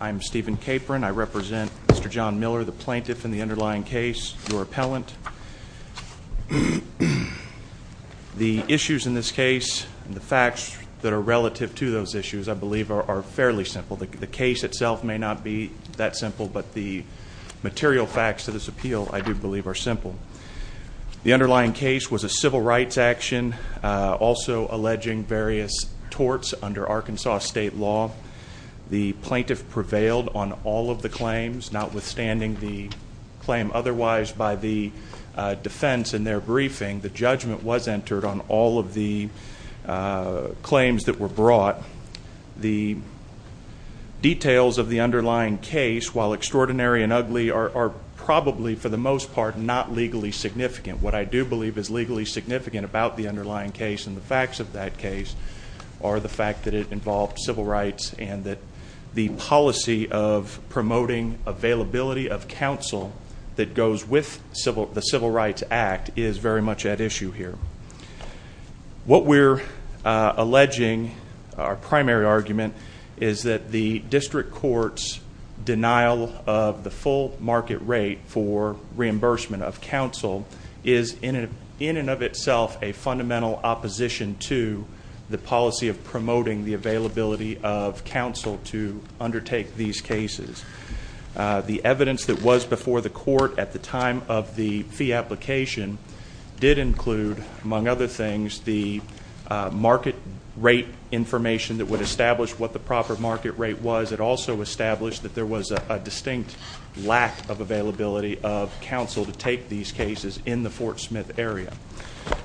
I am Stephen Capron. I represent Mr. John Miller, the plaintiff in the underlying case, your appellant. The issues in this case and the facts that are relative to those issues, I believe, are fairly simple. The case itself may not be that simple, but the material facts to this appeal, I do believe, are simple. The underlying case was a civil rights action, also alleging various torts under Arkansas state law. The plaintiff prevailed on all of the claims, notwithstanding the claim otherwise by the defense in their briefing. The judgment was entered on all of the claims that were brought. The details of the underlying case, while extraordinary and ugly, are probably, for the most part, not legally significant. What I do believe is legally significant about the underlying case and the facts of that case are the fact that it involved civil rights and that the policy of promoting availability of counsel that goes with the Civil Rights Act is very much at issue here. What we're alleging, our primary argument, is that the district court's denial of the full market rate for reimbursement of counsel is in and of itself a fundamental opposition to the policy of promoting the availability of counsel to undertake these cases. The evidence that was before the court at the time of the fee application did include, among other things, the market rate information that would establish what the proper market rate was. It also established that there was a distinct lack of availability of counsel to take these cases in the Fort Smith area.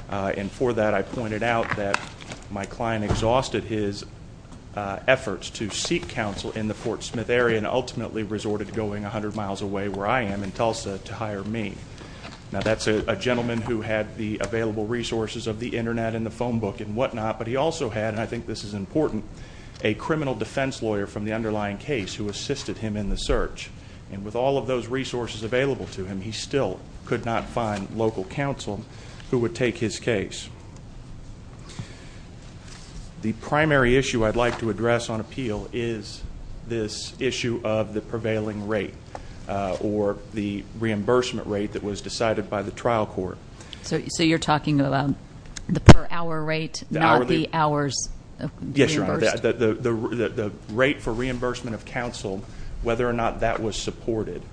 And for that, I pointed out that my client exhausted his efforts to seek counsel in the Fort Smith area and ultimately resorted to going 100 miles away where I am in Tulsa to hire me. Now, that's a gentleman who had the available resources of the Internet and the phone book and whatnot, but he also had, and I think this is important, a criminal defense lawyer from the underlying case who assisted him in the search. And with all of those resources available to him, he still could not find local counsel who would take his case. The primary issue I'd like to address on appeal is this issue of the prevailing rate or the reimbursement rate that was decided by the trial court. So you're talking about the per hour rate, not the hours reimbursed? Yes, Your Honor. The rate for reimbursement of counsel, whether or not that was supported.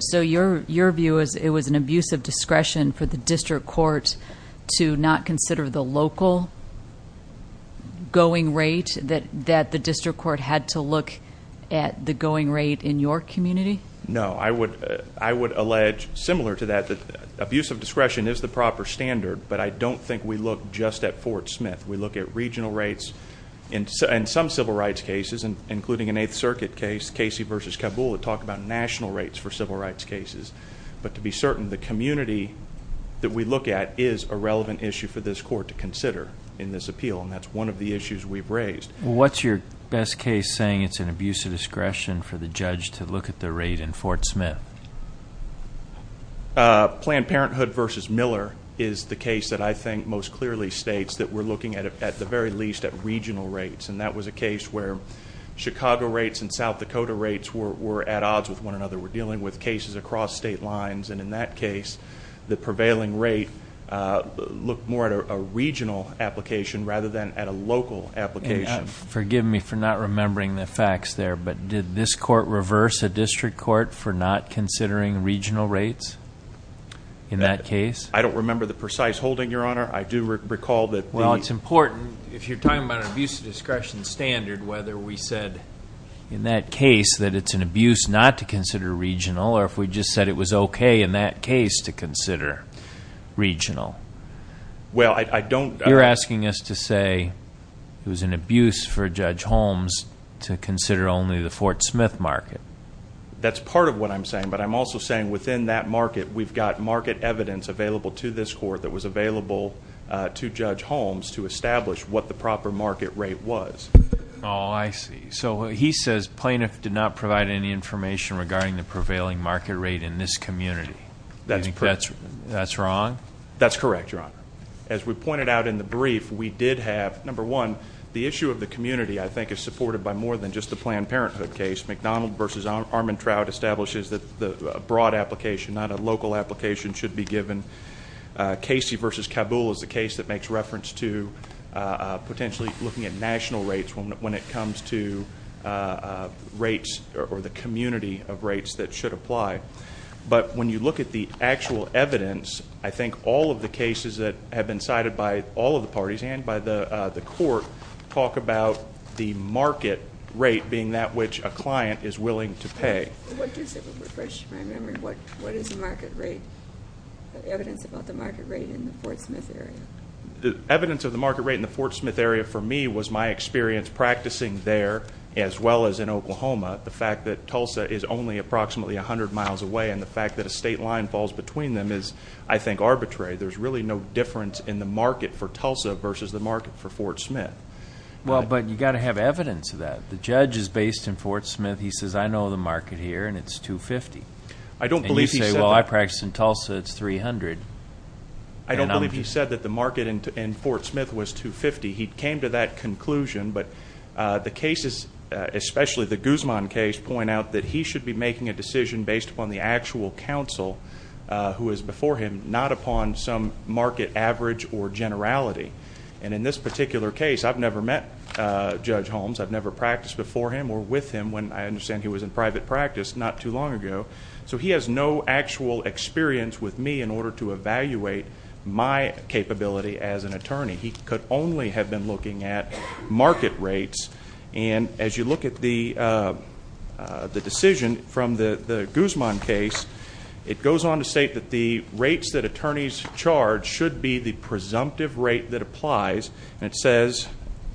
So your view is it was an abuse of discretion for the district court to not consider the local going rate, that the district court had to look at the going rate in your community? No. I would allege, similar to that, that abuse of discretion is the proper standard, but I don't think we look just at Fort Smith. We look at regional rates. In some civil rights cases, including an Eighth Circuit case, Casey versus Kabul, we talk about national rates for civil rights cases. But to be certain, the community that we look at is a relevant issue for this court to consider in this appeal, and that's one of the issues we've raised. What's your best case saying it's an abuse of discretion for the judge to look at the rate in Fort Smith? Planned Parenthood versus Miller is the case that I think most clearly states that we're looking at the very least at regional rates, and that was a case where Chicago rates and South Dakota rates were at odds with one another. We're dealing with cases across state lines, and in that case, the prevailing rate looked more at a regional application rather than at a local application. Forgive me for not remembering the facts there, but did this court reverse a district court for not considering regional rates in that case? I don't remember the precise holding, Your Honor. I do recall that the... Well, it's important if you're talking about an abuse of discretion standard, whether we said in that case that it's an abuse not to consider regional, or if we just said it was okay in that case to consider regional. Well, I don't... You're asking us to say it was an abuse for Judge Holmes to consider only the Fort Smith market. That's part of what I'm saying, but I'm also saying within that market, that we've got market evidence available to this court that was available to Judge Holmes to establish what the proper market rate was. Oh, I see. So he says plaintiff did not provide any information regarding the prevailing market rate in this community. That's correct. That's wrong? That's correct, Your Honor. As we pointed out in the brief, we did have, number one, the issue of the community I think is supported by more than just the Planned Parenthood case. McDonald v. Armantrout establishes that a broad application, not a local application, should be given. Casey v. Kabul is the case that makes reference to potentially looking at national rates when it comes to rates or the community of rates that should apply. But when you look at the actual evidence, I think all of the cases that have been cited by all of the parties and by the court talk about the market rate being that which a client is willing to pay. What is the market rate, evidence about the market rate in the Fort Smith area? The evidence of the market rate in the Fort Smith area for me was my experience practicing there as well as in Oklahoma. The fact that Tulsa is only approximately 100 miles away and the fact that a state line falls between them is, I think, arbitrary. There's really no difference in the market for Tulsa versus the market for Fort Smith. Well, but you've got to have evidence of that. The judge is based in Fort Smith. He says, I know the market here, and it's 250. I don't believe he said that. And you say, well, I practice in Tulsa, it's 300. I don't believe he said that the market in Fort Smith was 250. He came to that conclusion, but the cases, especially the Guzman case, point out that he should be making a decision based upon the actual counsel who is before him, not upon some market average or generality. And in this particular case, I've never met Judge Holmes. I've never practiced before him or with him when I understand he was in private practice not too long ago. So he has no actual experience with me in order to evaluate my capability as an attorney. He could only have been looking at market rates. And as you look at the decision from the Guzman case, it goes on to state that the rates that attorneys charge should be the presumptive rate that applies. And it says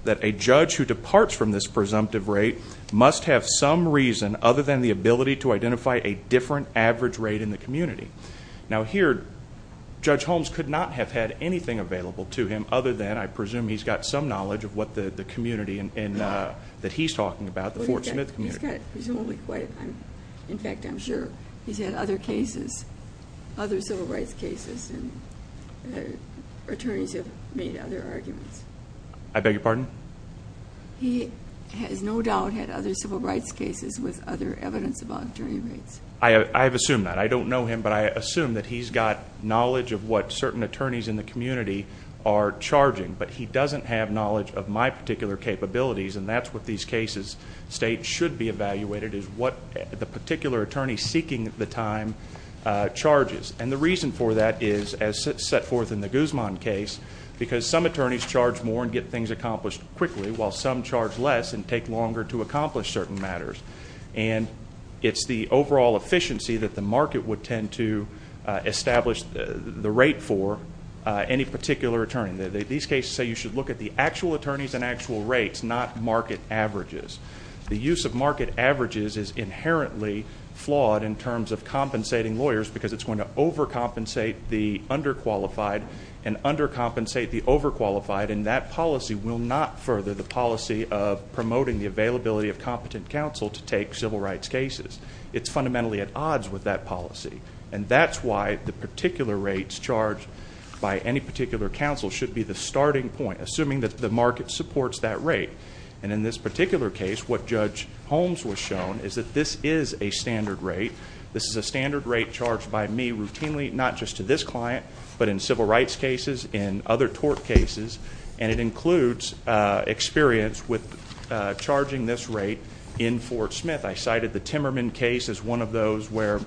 that a judge who departs from this presumptive rate must have some reason, other than the ability to identify a different average rate in the community. Now here, Judge Holmes could not have had anything available to him other than, I presume, he's got some knowledge of what the community that he's talking about, the Fort Smith community. In fact, I'm sure he's had other cases, other civil rights cases, and attorneys have made other arguments. I beg your pardon? He has no doubt had other civil rights cases with other evidence about attorney rates. I have assumed that. I don't know him, but I assume that he's got knowledge of what certain attorneys in the community are charging, but he doesn't have knowledge of my particular capabilities, and that's what these cases state should be evaluated is what the particular attorney seeking the time charges. And the reason for that is, as set forth in the Guzman case, because some attorneys charge more and get things accomplished quickly, while some charge less and take longer to accomplish certain matters. And it's the overall efficiency that the market would tend to establish the rate for any particular attorney. Again, these cases say you should look at the actual attorneys and actual rates, not market averages. The use of market averages is inherently flawed in terms of compensating lawyers because it's going to overcompensate the underqualified and undercompensate the overqualified, and that policy will not further the policy of promoting the availability of competent counsel to take civil rights cases. It's fundamentally at odds with that policy, and that's why the particular rates charged by any particular counsel should be the starting point, assuming that the market supports that rate. And in this particular case, what Judge Holmes was shown is that this is a standard rate. This is a standard rate charged by me routinely, not just to this client, but in civil rights cases, in other tort cases, and it includes experience with charging this rate in Fort Smith. I cited the Timmerman case as one of those where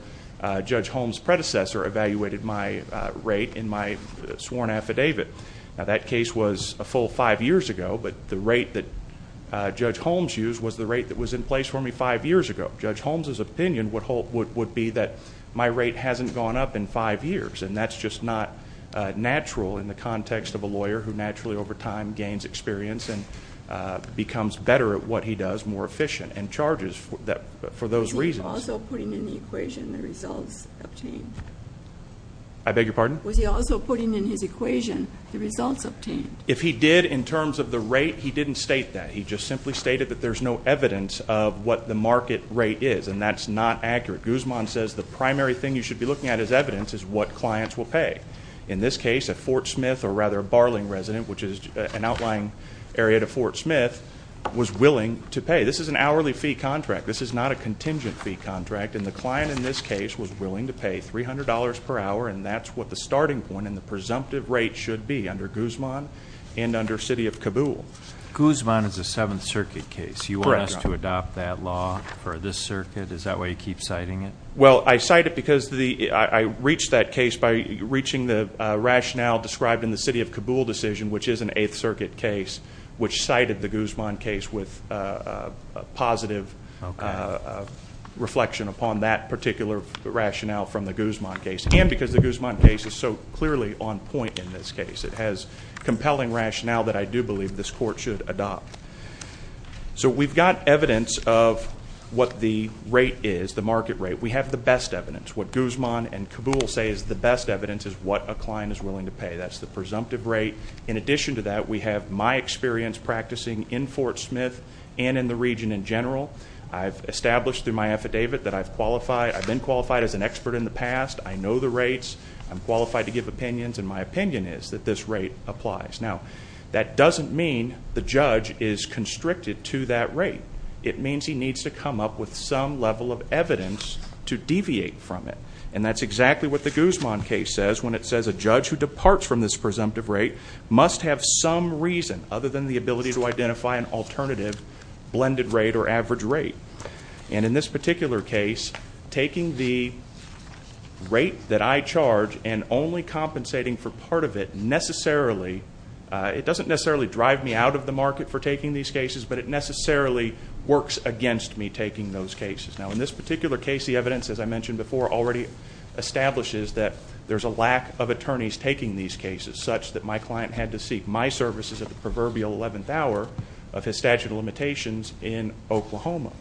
Judge Holmes' predecessor evaluated my rate in my sworn affidavit. Now, that case was a full five years ago, but the rate that Judge Holmes used was the rate that was in place for me five years ago. Judge Holmes' opinion would be that my rate hasn't gone up in five years, and that's just not natural in the context of a lawyer who naturally over time gains experience and becomes better at what he does, more efficient, and charges for those reasons. Was he also putting in the equation the results obtained? I beg your pardon? Was he also putting in his equation the results obtained? If he did in terms of the rate, he didn't state that. He just simply stated that there's no evidence of what the market rate is, and that's not accurate. Guzman says the primary thing you should be looking at as evidence is what clients will pay. In this case, a Fort Smith or rather a Barling resident, which is an outlying area to Fort Smith, was willing to pay. This is an hourly fee contract. This is not a contingent fee contract, and the client in this case was willing to pay $300 per hour, and that's what the starting point and the presumptive rate should be under Guzman and under city of Kabul. Guzman is a Seventh Circuit case. Correct. You want us to adopt that law for this circuit? Is that why you keep citing it? Well, I cite it because I reached that case by reaching the rationale described in the city of Kabul decision, which is an Eighth Circuit case, which cited the Guzman case with a positive reflection upon that particular rationale from the Guzman case, and because the Guzman case is so clearly on point in this case. It has compelling rationale that I do believe this court should adopt. So we've got evidence of what the rate is, the market rate. We have the best evidence. What Guzman and Kabul say is the best evidence is what a client is willing to pay. That's the presumptive rate. In addition to that, we have my experience practicing in Fort Smith and in the region in general. I've established through my affidavit that I've qualified. I've been qualified as an expert in the past. I know the rates. I'm qualified to give opinions, and my opinion is that this rate applies. Now, that doesn't mean the judge is constricted to that rate. It means he needs to come up with some level of evidence to deviate from it, and that's exactly what the Guzman case says when it says a judge who departs from this presumptive rate must have some reason other than the ability to identify an alternative blended rate or average rate. And in this particular case, taking the rate that I charge and only compensating for part of it necessarily, it doesn't necessarily drive me out of the market for taking these cases, but it necessarily works against me taking those cases. Now, in this particular case, the evidence, as I mentioned before, already establishes that there's a lack of attorneys taking these cases, such that my client had to seek my services at the proverbial eleventh hour of his statute of limitations in Oklahoma.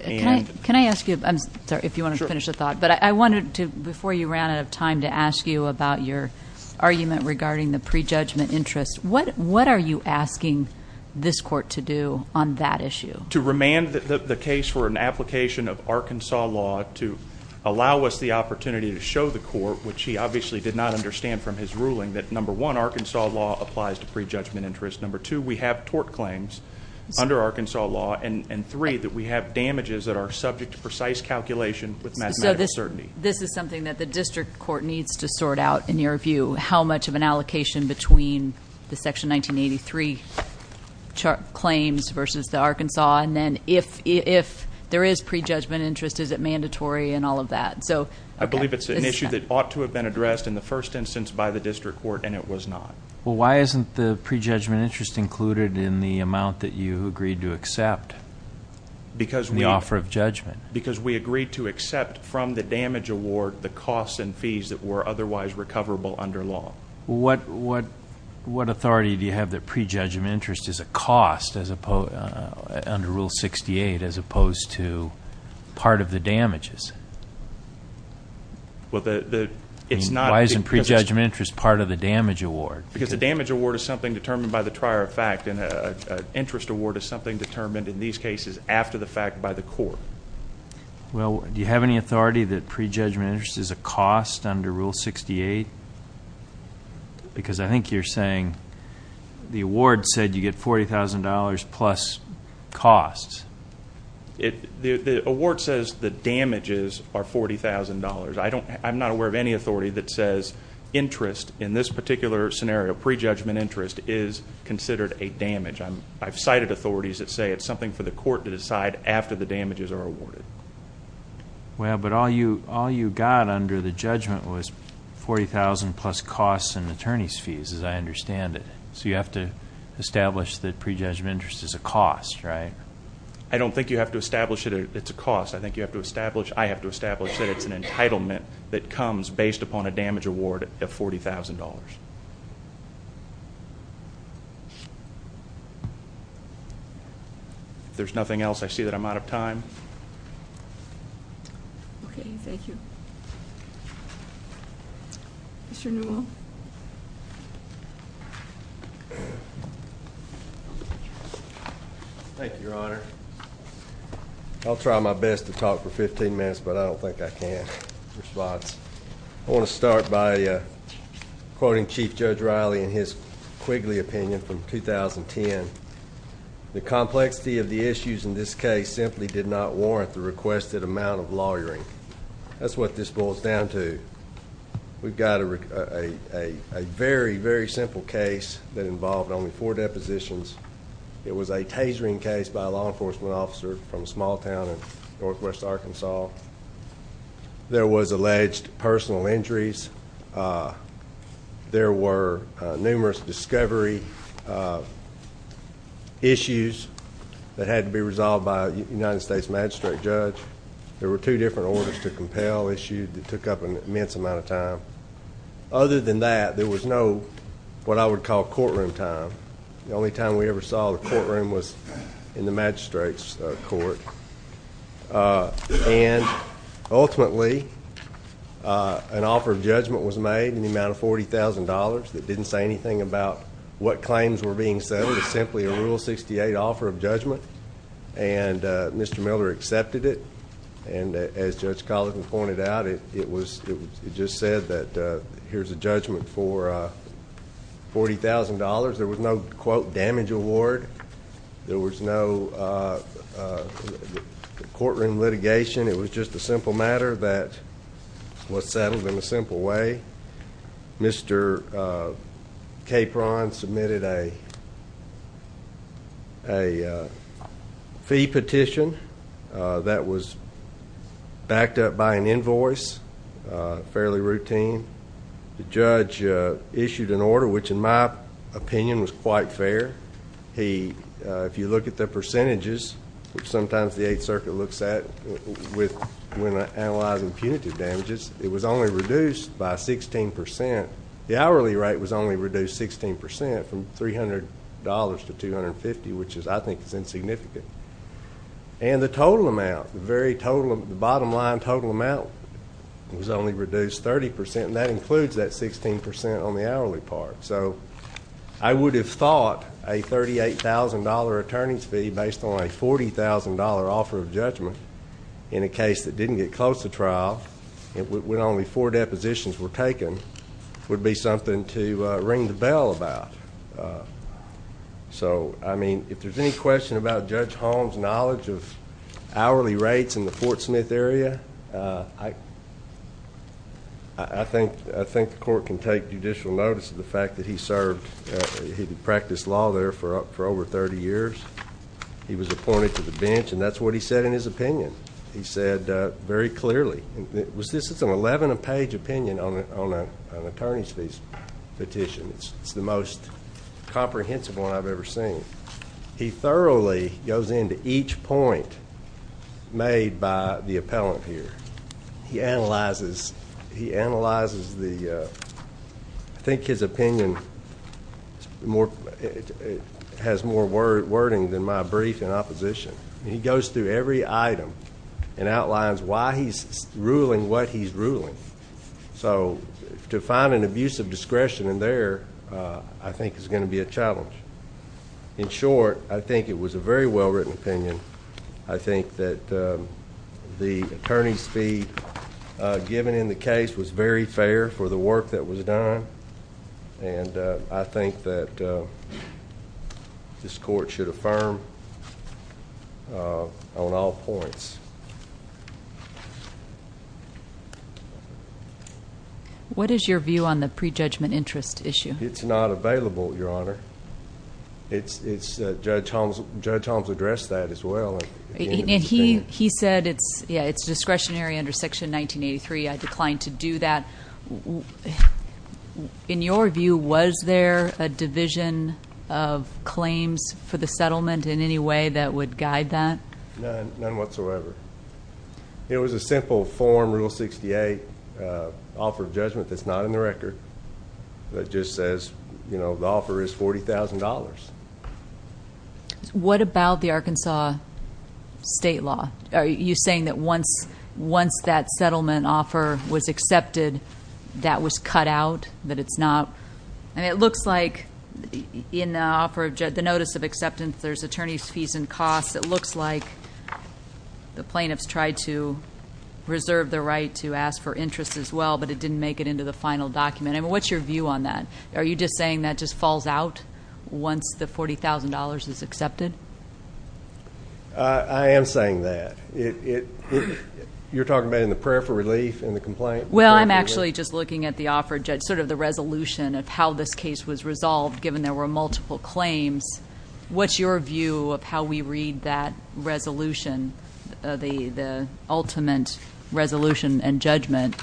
Can I ask you, I'm sorry, if you want to finish the thought, but I wanted to, before you ran out of time, to ask you about your argument regarding the prejudgment interest. What are you asking this court to do on that issue? To remand the case for an application of Arkansas law to allow us the opportunity to show the court, which he obviously did not understand from his ruling, that number one, Arkansas law applies to prejudgment interest. Number two, we have tort claims under Arkansas law. And three, that we have damages that are subject to precise calculation with mathematical certainty. So this is something that the district court needs to sort out in your view, how much of an allocation between the section 1983 claims versus the Arkansas, and then if there is prejudgment interest, is it mandatory and all of that? I believe it's an issue that ought to have been addressed in the first instance by the district court, and it was not. Well, why isn't the prejudgment interest included in the amount that you agreed to accept in the offer of judgment? Because we agreed to accept from the damage award the costs and fees that were otherwise recoverable under law. What authority do you have that prejudgment interest is a cost under Rule 68 as opposed to part of the damages? Why isn't prejudgment interest part of the damage award? Because the damage award is something determined by the trier of fact, and an interest award is something determined in these cases after the fact by the court. Well, do you have any authority that prejudgment interest is a cost under Rule 68? Because I think you're saying the award said you get $40,000 plus costs. The award says the damages are $40,000. I'm not aware of any authority that says interest in this particular scenario, prejudgment interest, is considered a damage. I've cited authorities that say it's something for the court to decide after the damages are awarded. Well, but all you got under the judgment was $40,000 plus costs and attorney's fees, as I understand it. So you have to establish that prejudgment interest is a cost, right? I don't think you have to establish that it's a cost. I think you have to establish, I have to establish, that it's an entitlement that comes based upon a damage award of $40,000. If there's nothing else, I see that I'm out of time. Okay, thank you. Mr. Newell. Thank you, Your Honor. I'll try my best to talk for 15 minutes, but I don't think I can. I want to start by quoting Chief Judge Riley in his Quigley opinion from 2010. The complexity of the issues in this case simply did not warrant the requested amount of lawyering. That's what this bill is down to. We've got a very, very simple case that involved only four depositions. It was a tasering case by a law enforcement officer from a small town in northwest Arkansas. There was alleged personal injuries. There were numerous discovery issues that had to be resolved by a United States magistrate judge. There were two different orders to compel issued that took up an immense amount of time. Other than that, there was no what I would call courtroom time. The only time we ever saw the courtroom was in the magistrate's court. And ultimately, an offer of judgment was made in the amount of $40,000 that didn't say anything about what claims were being settled. It was simply a Rule 68 offer of judgment, and Mr. Miller accepted it. And as Judge Collison pointed out, it just said that here's a judgment for $40,000. There was no, quote, damage award. There was no courtroom litigation. It was just a simple matter that was settled in a simple way. Mr. Capron submitted a fee petition that was backed up by an invoice, fairly routine. The judge issued an order, which in my opinion was quite fair. If you look at the percentages, which sometimes the Eighth Circuit looks at when analyzing punitive damages, it was only reduced by 16%. The hourly rate was only reduced 16% from $300 to $250, which I think is insignificant. And the total amount, the bottom line total amount was only reduced 30%, and that includes that 16% on the hourly part. So I would have thought a $38,000 attorney's fee based on a $40,000 offer of judgment in a case that didn't get close to trial, when only four depositions were taken, would be something to ring the bell about. So, I mean, if there's any question about Judge Holmes' knowledge of hourly rates in the Fort Smith area, I think the court can take judicial notice of the fact that he served, he practiced law there for over 30 years. He was appointed to the bench, and that's what he said in his opinion. He said very clearly. This is an 11-page opinion on an attorney's fee petition. It's the most comprehensive one I've ever seen. He thoroughly goes into each point made by the appellant here. He analyzes the, I think his opinion has more wording than my brief in opposition. He goes through every item and outlines why he's ruling what he's ruling. So to find an abuse of discretion in there, I think, is going to be a challenge. In short, I think it was a very well-written opinion. I think that the attorney's fee given in the case was very fair for the work that was done, and I think that this court should affirm on all points. What is your view on the prejudgment interest issue? Judge Holmes addressed that as well. He said it's discretionary under Section 1983. I declined to do that. In your view, was there a division of claims for the settlement in any way that would guide that? None whatsoever. It was a simple form, Rule 68, offer of judgment that's not in the record. It just says the offer is $40,000. What about the Arkansas state law? Are you saying that once that settlement offer was accepted, that was cut out, that it's not? It looks like in the notice of acceptance, there's attorney's fees and costs. It looks like the plaintiffs tried to reserve the right to ask for interest as well, but it didn't make it into the final document. What's your view on that? Are you just saying that just falls out once the $40,000 is accepted? I am saying that. You're talking about in the prayer for relief in the complaint? Well, I'm actually just looking at the offer of judgment, sort of the resolution of how this case was resolved given there were multiple claims. What's your view of how we read that resolution, the ultimate resolution and judgment?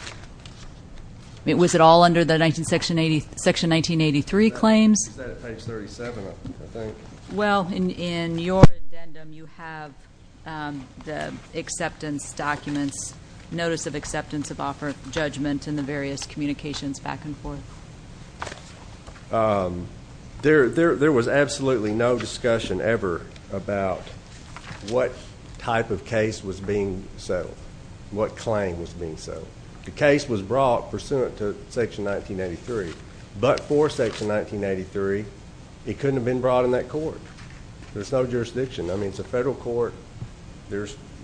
Was it all under the section 1983 claims? It's at page 37, I think. Well, in your addendum, you have the acceptance documents, notice of acceptance of offer of judgment and the various communications back and forth. There was absolutely no discussion ever about what type of case was being settled, what claim was being settled. The case was brought pursuant to section 1983, but for section 1983, it couldn't have been brought in that court. There's no jurisdiction. I mean, it's a federal court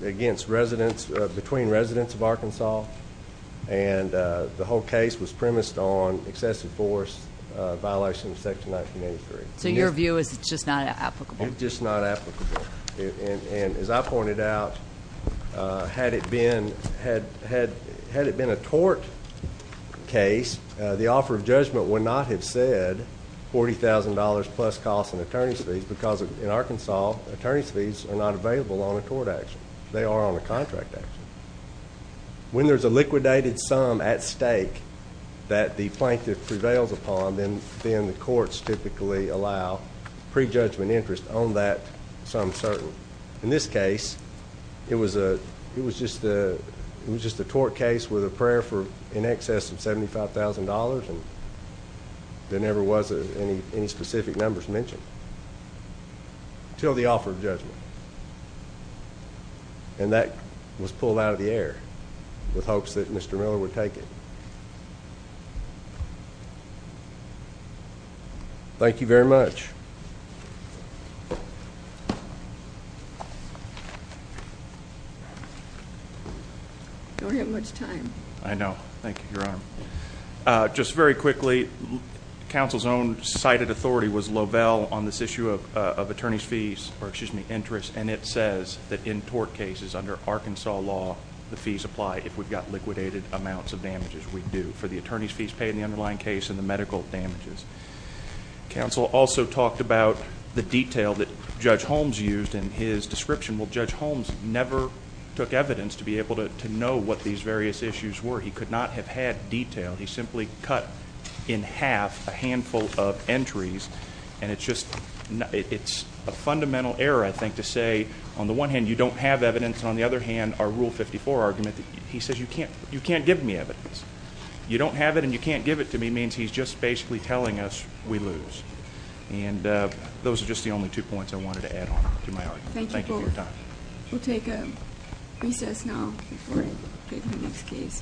against residents, between residents of Arkansas, and the whole case was premised on excessive force violation of section 1983. So your view is it's just not applicable? It's just not applicable. And as I pointed out, had it been a tort case, the offer of judgment would not have said $40,000 plus costs and attorney's fees because in Arkansas, attorney's fees are not available on a tort action. They are on a contract action. When there's a liquidated sum at stake that the plaintiff prevails upon, then the courts typically allow prejudgment interest on that sum certain. In this case, it was just a tort case with a prayer for in excess of $75,000, and there never was any specific numbers mentioned until the offer of judgment. And that was pulled out of the air with hopes that Mr. Miller would take it. Thank you very much. We don't have much time. I know. Thank you, Your Honor. Just very quickly, counsel's own cited authority was Lovell on this issue of attorney's fees or, excuse me, interest, and it says that in tort cases under Arkansas law, the fees apply if we've got liquidated amounts of damages. We do for the attorney's fees paid in the underlying case and the medical damages. Counsel also talked about the detail that Judge Holmes used in his description. Well, Judge Holmes never took evidence to be able to know what these various issues were. He could not have had detail. He simply cut in half a handful of entries, and it's a fundamental error, I think, to say, on the one hand, you don't have evidence, and on the other hand, our Rule 54 argument, he says, you can't give me evidence. You don't have it and you can't give it to me means he's just basically telling us we lose. And those are just the only two points I wanted to add on to my argument. Thank you for your time. We'll take a recess now before we go to the next case. Thank you.